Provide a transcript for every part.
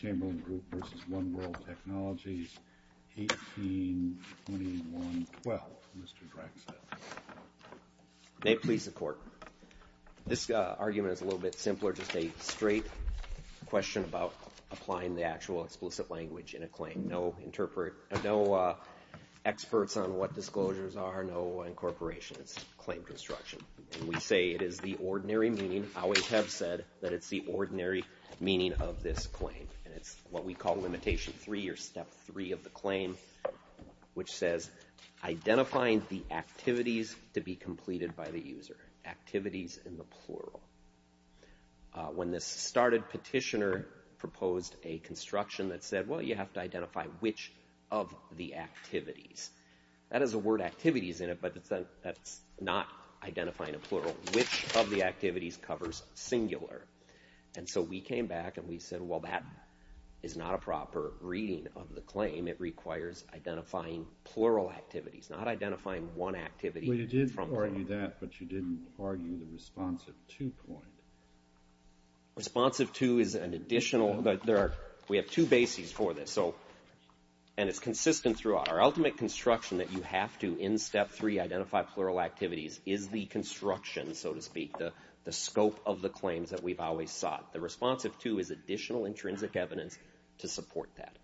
Chamberlain Group versus One World Technologies 182112, Mr. Draxler. May it please the court. This argument is a little bit simpler, just a straight question about applying the actual explicit language in a claim. No interpret, no experts on what disclosures are, no incorporations, claim construction. We say it is the ordinary meaning, I always have said that it's the and it's what we call limitation three or step three of the claim, which says identifying the activities to be completed by the user. Activities in the plural. When this started, petitioner proposed a construction that said, well you have to identify which of the activities. That is a word activities in it, but that's not identifying a plural. Which of the activities covers singular? And so we came back and we said, well that is not a proper reading of the claim. It requires identifying plural activities, not identifying one activity. Well you did argue that, but you didn't argue the responsive to point. Responsive to is an additional, but there are, we have two bases for this, so and it's consistent throughout. Our ultimate construction that you have to, in step three, identify plural activities is the construction, so to speak, the the scope of the claims that we've always sought. The responsive to is additional intrinsic evidence to support that,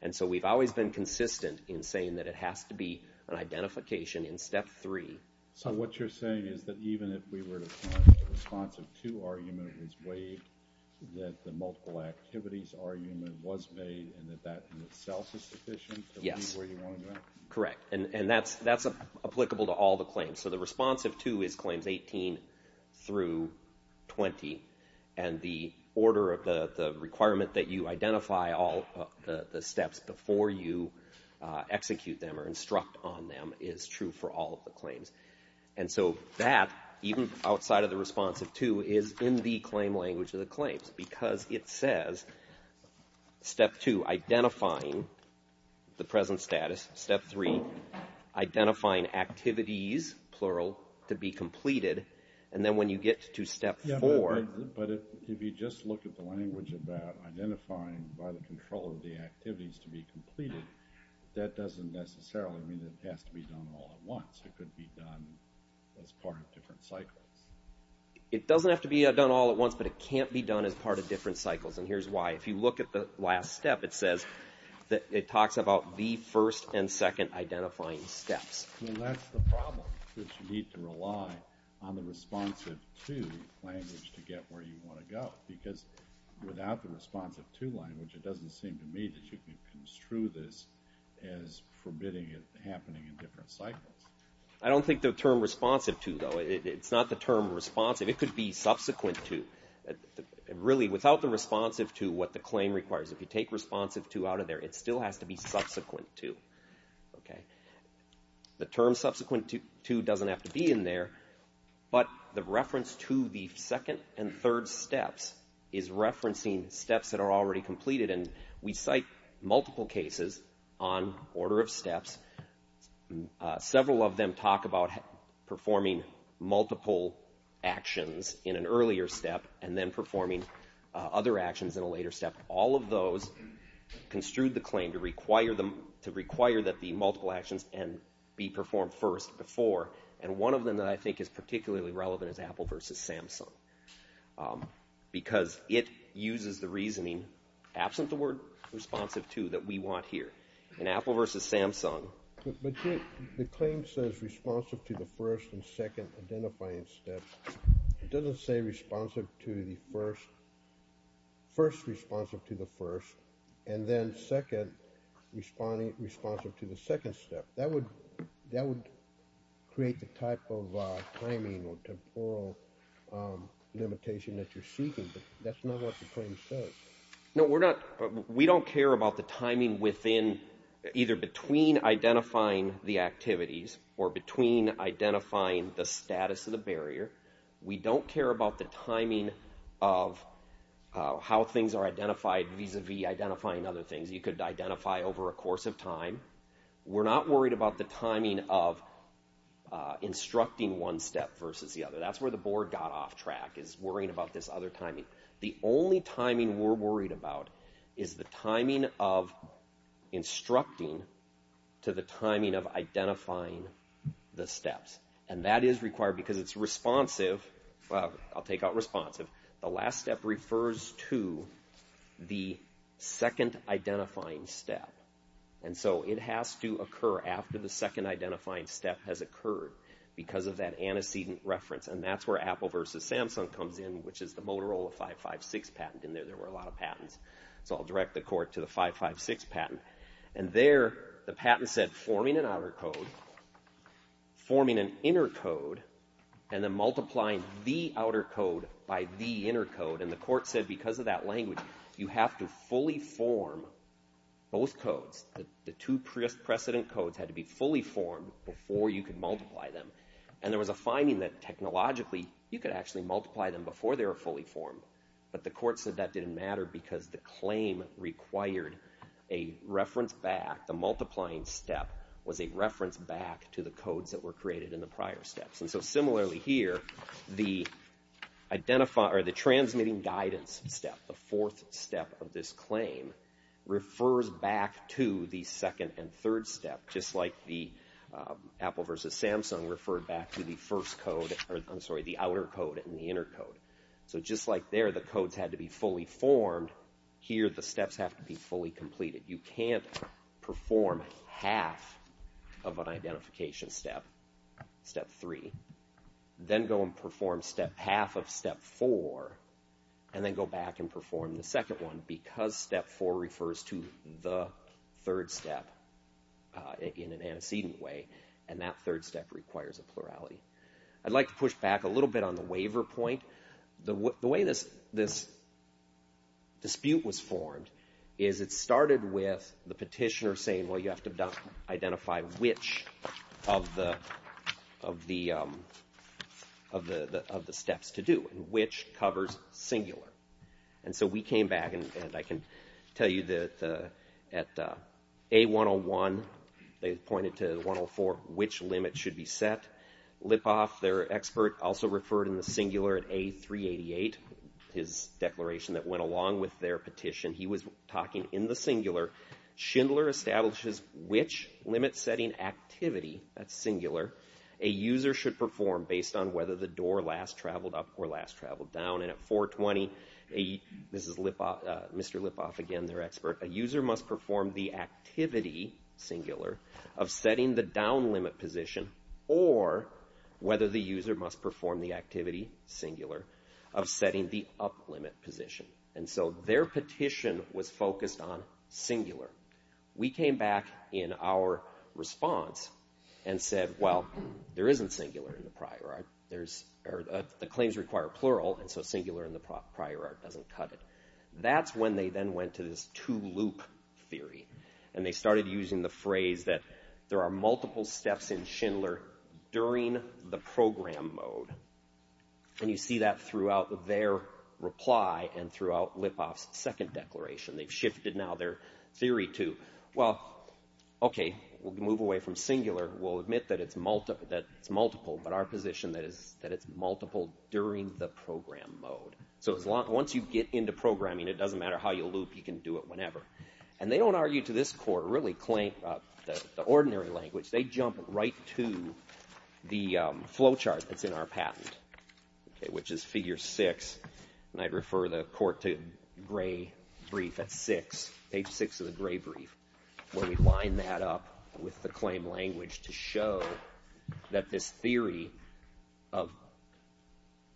and so we've always been consistent in saying that it has to be an identification in step three. So what you're saying is that even if we were to find the responsive to argument is waived, that the multiple activities argument was made and that that in itself is sufficient? Yes, correct, and that's applicable to all the claims. So the responsive to is claims 18 through 20, and the order of the requirement that you identify all the steps before you execute them or instruct on them is true for all of the claims. And so that, even outside of the responsive to, is in the claim language of the claims, because it has to be done all at once. It could be done as part of different cycles. It doesn't have to be done all at once, but it can't be done as part of different cycles, and here's why. If you look at the last step, it says that it talks about the first and second identifying steps. Well, that's the problem, that you need to rely on the responsive to language to get where you want to go, because without the responsive to language, it doesn't seem to me that you can construe this as forbidding it happening in different cycles. I don't think the term responsive to, though, it's not the term responsive, it could be subsequent to. Really, without the responsive to, what the claim requires, if you take responsive to out of there, it still has to be subsequent to. The term subsequent to doesn't have to be in there, but the reference to the second and third steps is referencing steps that are already completed, and we cite multiple cases on order of steps. Several of them talk about performing multiple actions in an earlier step, and then performing other actions in a later step. All of those construed the claim to require that the multiple actions and be performed first before, and one of them that I think is particularly relevant is Apple versus Samsung, because it uses the reasoning, absent the word responsive to, that we want here. In Apple versus Samsung, the claim says responsive to the first and second identifying steps. It doesn't say responsive to the first, first responsive to the first, and then second responsive to the second step. That would create the type of timing or temporal limitation that you're seeking, but that's not what the claim says. No, we're not, we don't care about the timing within, either between identifying the activities or between identifying the status of the barrier. We don't care about the timing of how things are identified vis-a-vis identifying other things. You could identify over a course of time. We're not worried about the timing of instructing one step versus the other. That's where the board got off track, is worrying about this other timing. The only timing we're worried about is the timing of instructing to the timing of identifying the steps, and that is required because it's responsive. I'll take out responsive. The last step refers to the second identifying step, and so it has to occur after the second identifying step has occurred because of that antecedent reference, and that's where Apple versus Samsung comes in, which is the Motorola 556 patent in there. There were a lot of patents, so I'll direct the court to the 556 patent, and there the patent said forming an outer code, forming an inner code, and then multiplying the outer code by the inner code, and the court said because of that language you have to fully form both codes. The two precedent codes had to be fully formed before you could multiply them, and there was a finding that technologically you could actually multiply them before they were fully formed, but the court said that didn't matter because the claim required a reference back. The multiplying step was a reference back to the codes that were created in the prior steps, and so similarly here the identifying or the transmitting guidance step, the fourth step of this claim, refers back to the second and third step, just like the Apple versus Samsung referred back to the first code, or I'm sorry, the outer code and the inner code. So just like there the codes had to be fully formed, here the steps have to be fully completed. You can't perform half of an identification step, step three, then go and perform step half of step four, and then go back and perform the second one because step four refers to the third step in an antecedent way, and that third step requires a plurality. I'd like to push back a little bit on the waiver point. The way this dispute was formed is it started with the petitioner saying, well you have to identify which of the steps to do, which covers singular, and so we came back and I can tell you that at A101 they pointed to 104, which limit should be set. Lipov, their expert, also referred in the singular at A388, his declaration that went along with their petition. He was talking in the singular, Schindler establishes which limit setting activity, that's singular, a user should perform based on whether the door last traveled up or last traveled down, and at 420, Mr. Lipov, again their expert, a user must perform the activity, singular, of setting the down limit position, and so their petition was focused on singular. We came back in our response and said, well there isn't singular in the prior art, the claims require plural, and so singular in the prior art doesn't cut it. That's when they then went to this two loop theory, and they started using the phrase that there are multiple steps in Schindler during the program mode, and you see that throughout their reply and throughout Lipov's second declaration. They've shifted now their theory to, well okay, we'll move away from singular, we'll admit that it's multiple, but our position is that it's multiple during the program mode. So once you get into programming, it doesn't matter how you loop, you can do it whenever, and they don't argue to this court, really the claim, the ordinary language, they jump right to the flowchart that's in our patent, which is figure six, and I'd refer the court to gray brief at six, page six of the gray brief, where we line that up with the claim language to show that this theory of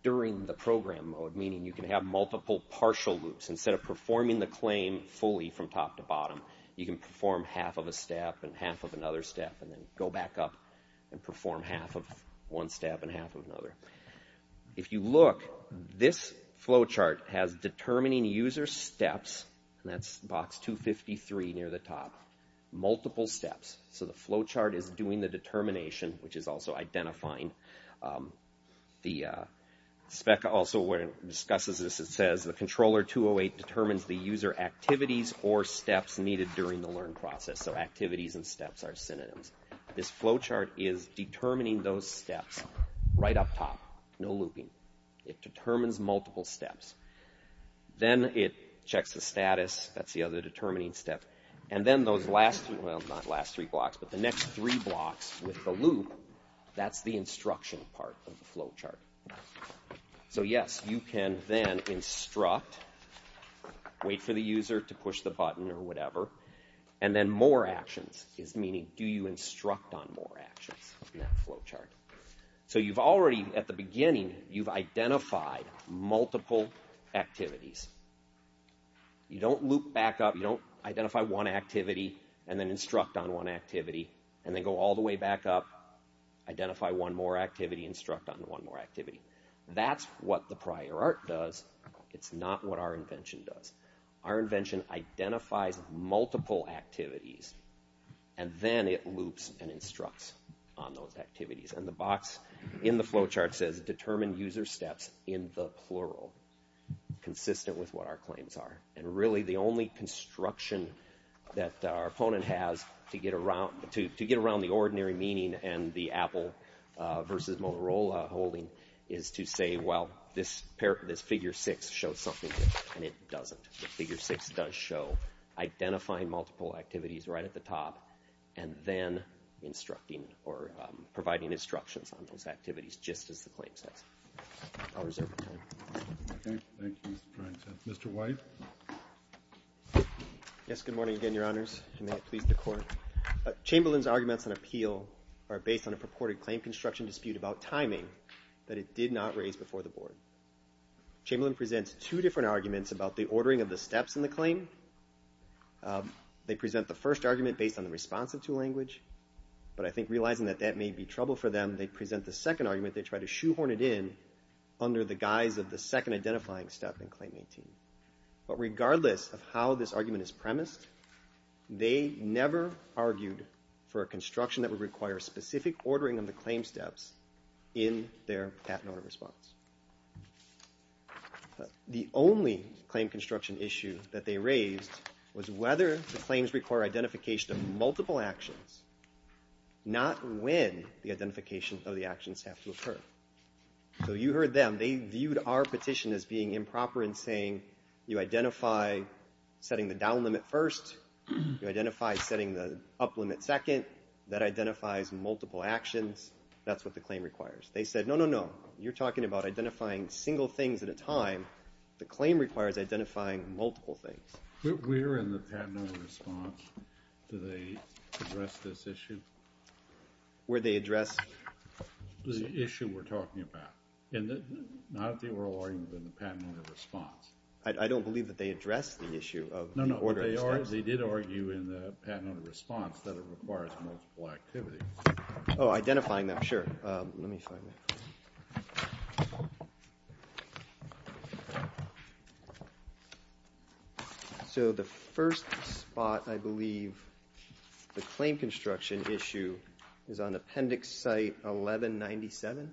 during the program mode, meaning you can have multiple partial loops, instead of performing the claim fully from top to bottom, you can perform half of a step and half of another step, and then go back up and perform half of one step and half of another. If you look, this flowchart has determining user steps, and that's box 253 near the top, multiple steps, so the flowchart is doing the determination, which is also identifying the spec, also where it discusses this, it says the controller 208 determines the user activities or steps needed during the learn process, so activities and steps are synonyms, this flowchart is determining those steps right up top, no looping, it determines multiple steps, then it checks the status, that's the other determining step, and then those last, well not last three blocks, but the next three blocks with the loop, that's the instruction part of the flowchart, so yes, you can then instruct, wait for the user to push the button or whatever, and then more actions is meaning, do you instruct on more actions in that flowchart, so you've already, at the beginning, you've identified multiple activities, you don't loop back up, you don't identify one activity, and then instruct on one activity, and then go all the way back up, identify one more activity, instruct on one more activity, that's what the prior art does, it's not what our invention does, our invention identifies multiple activities, and then it loops and instructs on those activities, and the box in the flowchart says determine user steps in the plural, consistent with what our claims are, and really the only construction that our opponent has to get around the ordinary meaning and the Apple versus Motorola holding is to say, well, this figure six shows something, and it doesn't, the figure six does show identifying multiple activities right at the top, and then instructing, or providing instructions on those activities, just as the claim says, I'll reserve the time. Okay, thank you. Mr. White? Yes, good morning again, Your Honors, and may it please the Court. Chamberlain's arguments on appeal are based on a purported claim construction dispute about timing that it did not raise before the Board. Chamberlain presents two different arguments about the ordering of the steps in the claim. They present the first argument based on the response of two language, but I think realizing that that may be trouble for them, they present the second argument, they try to shoehorn it in under the guise of the second identifying step in their patent order response. The only claim construction issue that they raised was whether the claims require identification of multiple actions, not when the identification of the actions have to occur. So you heard them, they viewed our petition as being improper in saying you identify setting the down limit, up limit second, that identifies multiple actions, that's what the claim requires. They said no, no, no, you're talking about identifying single things at a time, the claim requires identifying multiple things. Where in the patent order response do they address this issue? Where they address? The issue we're talking about, not the oral argument, but the patent order response. I don't believe that they address the issue of the order of the steps. No, no, they did argue in the response that it requires multiple activities. Oh, identifying them, sure, let me find that. So the first spot, I believe, the claim construction issue is on Appendix Site 1197.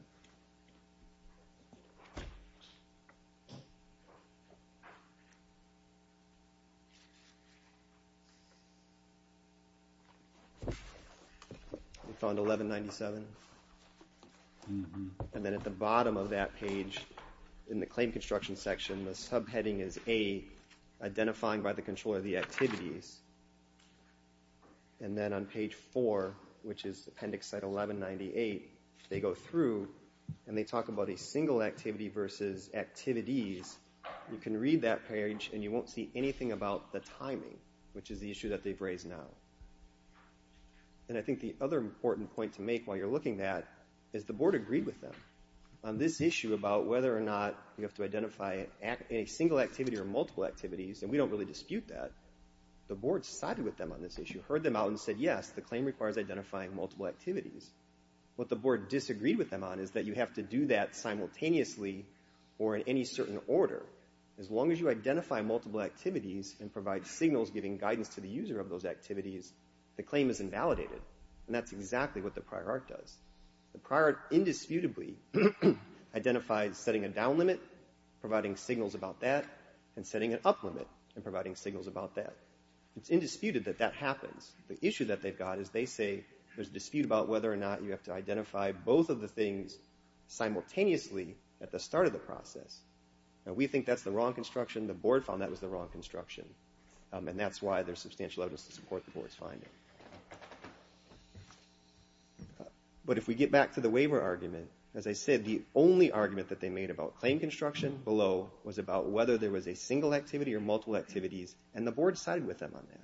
We found 1197, and then at the bottom of that page in the claim construction section, the subheading is A, identifying by the control of the activities, and then on page 4, which is Appendix Site 1198, they go through and they talk about a single activity versus activities. You can read that page and you won't see anything about the timing, which is the issue that they've raised now. And I think the other important point to make while you're looking at is the board agreed with them on this issue about whether or not you have to identify a single activity or multiple activities, and we don't really dispute that, the board sided with them on this issue, heard them out and said yes, the claim requires identifying multiple activities. What the board disagreed with them on is that you have to do that simultaneously or in any certain order. As long as you identify multiple activities and provide signals giving guidance to the user of those activities, the claim is invalidated, and that's exactly what the prior art does. The prior art indisputably identifies setting a down limit, providing signals about that, and setting an up limit and providing signals about that. It's indisputed that that happens. The issue that they've got is they say there's a dispute about whether or not you have to identify both of the things simultaneously at the start of the process. Now we think that's the wrong construction, and that's why there's substantial evidence to support the board's finding. But if we get back to the waiver argument, as I said, the only argument that they made about claim construction below was about whether there was a single activity or multiple activities, and the board sided with them on that.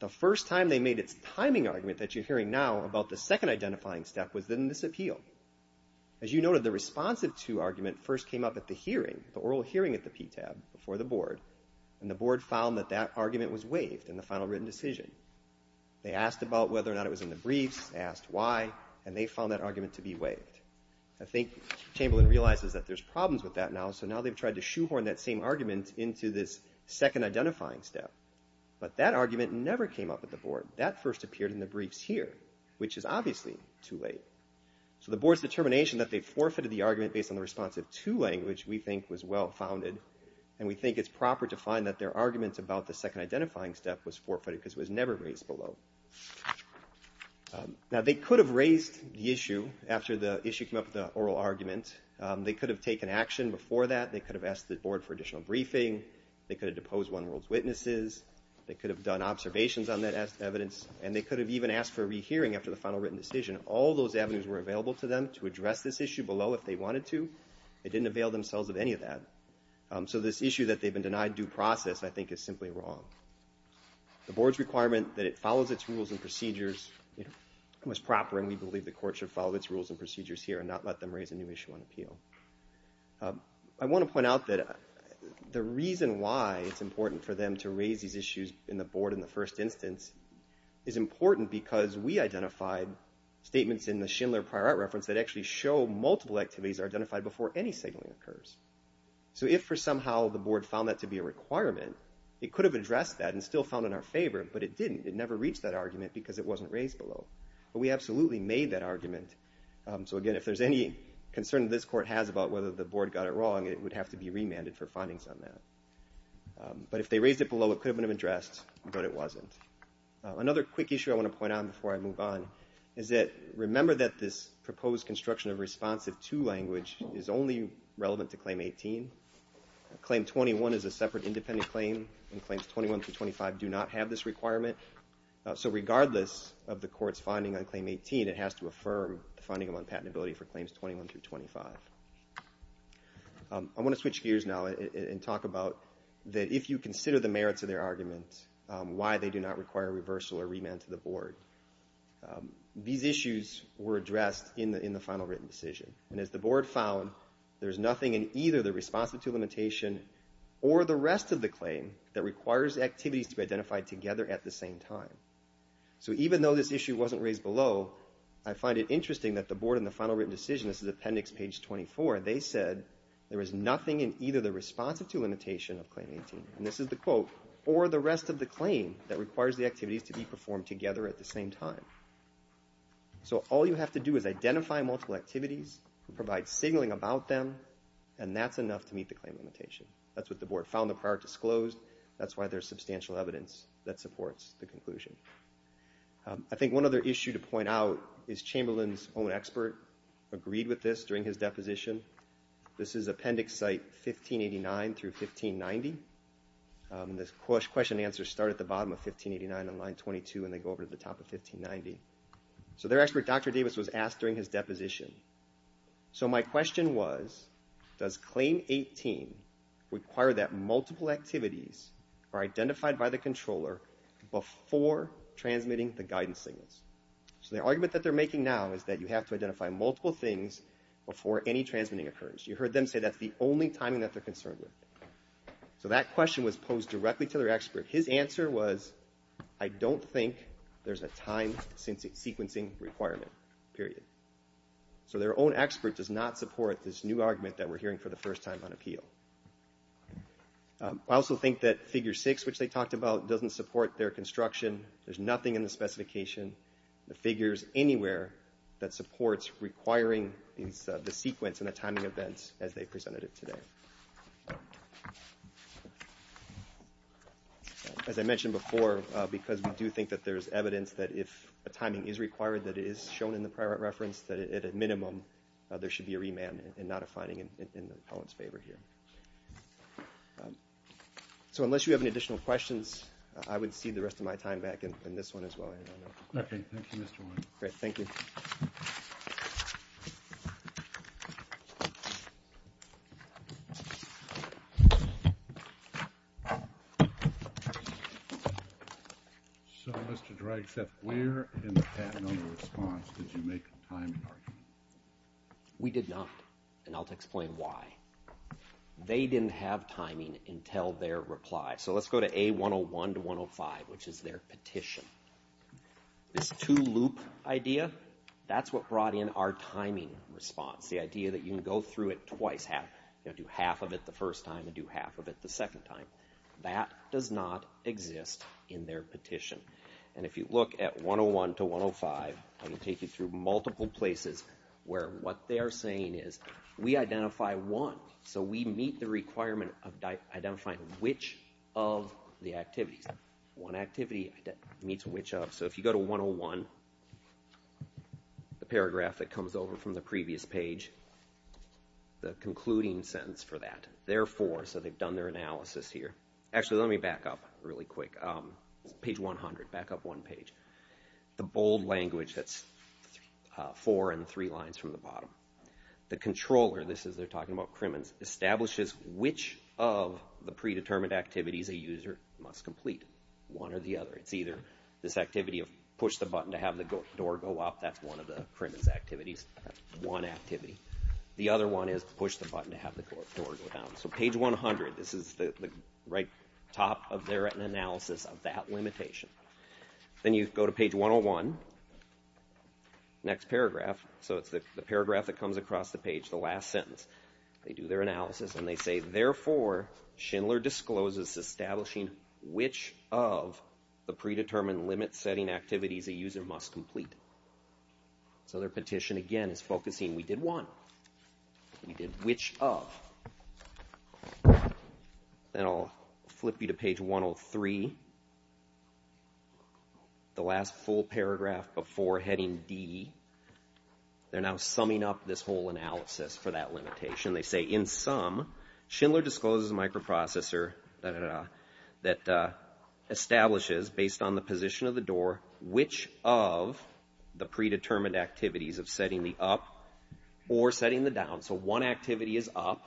The first time they made its timing argument that you're hearing now about the second identifying step was in this appeal. As you noted, the responsive to argument first came up at the hearing, the oral hearing at the PTAB before the board found that that argument was waived in the final written decision. They asked about whether or not it was in the briefs, asked why, and they found that argument to be waived. I think Chamberlain realizes that there's problems with that now, so now they've tried to shoehorn that same argument into this second identifying step, but that argument never came up at the board. That first appeared in the briefs here, which is obviously too late. So the board's determination that they forfeited the argument based on the responsive to language we think was well-founded, and we think it's proper to find that their argument about the second identifying step was forfeited because it was never raised below. Now they could have raised the issue after the issue came up with the oral argument. They could have taken action before that. They could have asked the board for additional briefing. They could have deposed One World's Witnesses. They could have done observations on that evidence, and they could have even asked for a rehearing after the final written decision. All those avenues were available to them to address this issue below if they wanted to. They didn't avail themselves of any of that. So this issue that they've been denied due process I think is simply wrong. The board's requirement that it follows its rules and procedures was proper, and we believe the court should follow its rules and procedures here and not let them raise a new issue on appeal. I want to point out that the reason why it's important for them to raise these issues in the board in the first instance is important because we identified statements in the Schindler prior art reference that actually show multiple activities are identified before any signaling occurs. So if for some reason that was not to be a requirement, it could have addressed that and still found in our favor, but it didn't. It never reached that argument because it wasn't raised below. But we absolutely made that argument. So again, if there's any concern this court has about whether the board got it wrong, it would have to be remanded for findings on that. But if they raised it below, it could have been addressed, but it wasn't. Another quick issue I want to point out before I move on is that remember that this proposed construction of responsive to language is only relevant to Claim 18. Claim 21 is a separate independent claim, and Claims 21 through 25 do not have this requirement. So regardless of the court's finding on Claim 18, it has to affirm the finding on patentability for Claims 21 through 25. I want to switch gears now and talk about that if you consider the merits of their argument, why they do not require reversal or remand to the board. These issues were addressed in the final written decision, and as the board found, there's nothing in either the responsive to limitation or the rest of the claim that requires activities to be identified together at the same time. So even though this issue wasn't raised below, I find it interesting that the board in the final written decision, this is appendix page 24, they said there was nothing in either the responsive to limitation of Claim 18, and this is the quote, or the rest of the claim that requires the activities to be performed together at the same time. So all you have to do is identify multiple activities, provide signaling about them, and that's enough to meet the claim limitation. That's what the board found the prior disclosed, that's why there's substantial evidence that supports the conclusion. I think one other issue to point out is Chamberlain's own expert agreed with this during his deposition. This is appendix site 1589 through 1590. This question and answer start at the bottom of 1589 on line 22 and they go to the top of 1590. So their expert Dr. Davis was asked during his deposition, so my question was, does Claim 18 require that multiple activities are identified by the controller before transmitting the guidance signals? So the argument that they're making now is that you have to identify multiple things before any transmitting occurs. You heard them say that's the only timing that they're concerned with. So that question was posed directly to their expert. His answer was, I don't think there's a time sequencing requirement, period. So their own expert does not support this new argument that we're hearing for the first time on appeal. I also think that figure six, which they talked about, doesn't support their construction. There's nothing in the specification, the figures anywhere, that supports requiring the sequence and the timing events as they presented it today. As I mentioned before, because we do think that there's evidence that if a timing is required, that it is shown in the prior reference, that at a minimum there should be a remand and not a finding in the appellant's favor here. So unless you have any additional questions, I would rest of my time back in this one as well. Okay, thank you, Mr. Wood. Great, thank you. So Mr. Dragset, where in the patent under response did you make the timing argument? We did not, and I'll explain why. They didn't have timing until their reply. So let's go to A101 to 105, which is their petition. This two loop idea, that's what brought in our timing response. The idea that you can go through it twice, do half of it the first time and do half of it the second time. That does not exist in their petition. And if you look at 101 to 105, I can take you through multiple places where what they are saying is, we identify one, so we meet the requirement of identifying which of the activities. One activity meets which of, so if you go to 101, the paragraph that comes over from the previous page, the concluding sentence for that, therefore, so they've done their analysis here. Actually let me back up really quick. Page 100, back up one page. The bold language that's four and three lines from the bottom. The controller, this is they're talking about establishes which of the predetermined activities a user must complete, one or the other. It's either this activity of push the button to have the door go up, that's one of the activities, one activity. The other one is push the button to have the door go down. So page 100, this is the right top of their written analysis of that limitation. Then you go to page 101, next paragraph, so it's the analysis and they say, therefore, Schindler discloses establishing which of the predetermined limit setting activities a user must complete. So their petition again is focusing, we did one, we did which of. Then I'll flip you to page 103, the last full paragraph before heading D. They're now summing up this analysis for that limitation. They say, in sum, Schindler discloses a microprocessor that establishes, based on the position of the door, which of the predetermined activities of setting the up or setting the down. So one activity is up,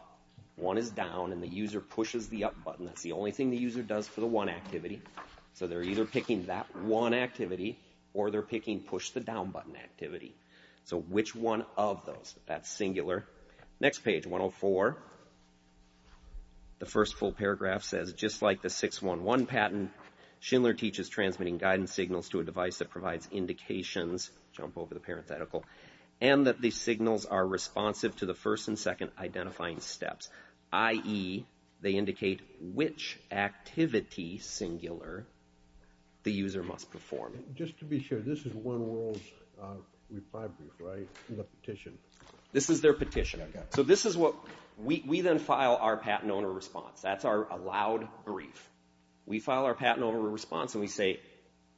one is down, and the user pushes the up button. That's the only thing the user does for the one activity. So they're either picking that one activity or they're picking push the down button activity. So which one of those? That's singular. Next page, 104, the first full paragraph says, just like the 611 patent, Schindler teaches transmitting guidance signals to a device that provides indications, jump over the parenthetical, and that these signals are responsive to the first and second identifying steps, i.e., they indicate which activity, singular, the user must perform. Just to be sure, this is One World's reply brief, right? The petition. This is their petition. So this is what, we then file our patent owner response. That's our allowed brief. We file our patent owner response and we say,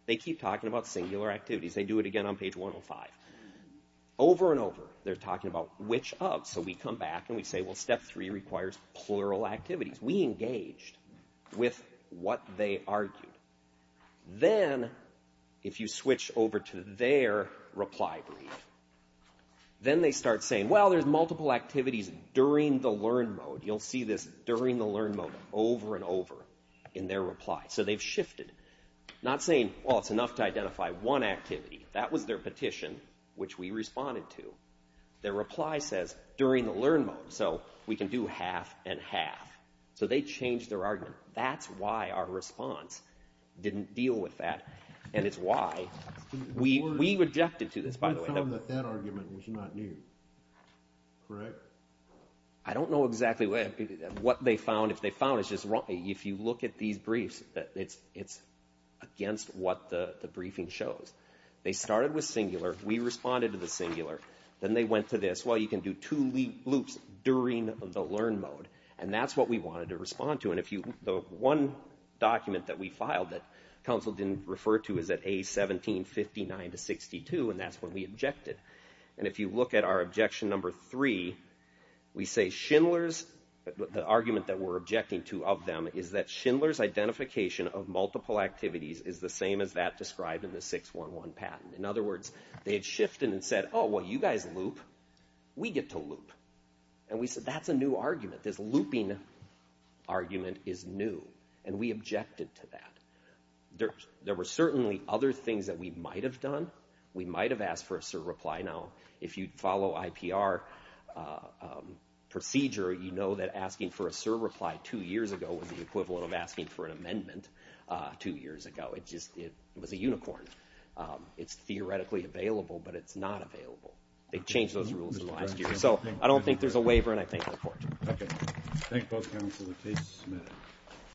they keep talking about singular activities. They do it again on page 105. Over and over, they're talking about which of, so we come back and we engaged with what they argued. Then, if you switch over to their reply brief, then they start saying, well, there's multiple activities during the learn mode. You'll see this during the learn mode over and over in their reply. So they've shifted. Not saying, well, it's enough to identify one activity. That was their petition, which we responded to. Their reply says, during the learn mode, so we can do half and half. So they changed their argument. That's why our response didn't deal with that, and it's why we rejected to this, by the way. We found that that argument was not new, correct? I don't know exactly what they found. If they found, it's just wrong. If you look at these briefs, it's against what the briefing shows. They started with singular. We responded to the singular. Then they went to this. Well, you can do loops during the learn mode, and that's what we wanted to respond to. The one document that we filed that counsel didn't refer to is at A1759-62, and that's when we objected. If you look at our objection number three, we say Schindler's, the argument that we're objecting to of them is that Schindler's identification of multiple activities is the same as that described in the 611 patent. In other words, they had shifted and said, oh, well, you guys loop. We get to loop, and we said, that's a new argument. This looping argument is new, and we objected to that. There were certainly other things that we might have done. We might have asked for a SIR reply. Now, if you follow IPR procedure, you know that asking for a SIR reply two years ago was the equivalent of asking for an amendment two years ago. It was a unicorn. It's so I don't think there's a waiver, and I thank the court. Okay. Thank you both, counsel. The case is submitted.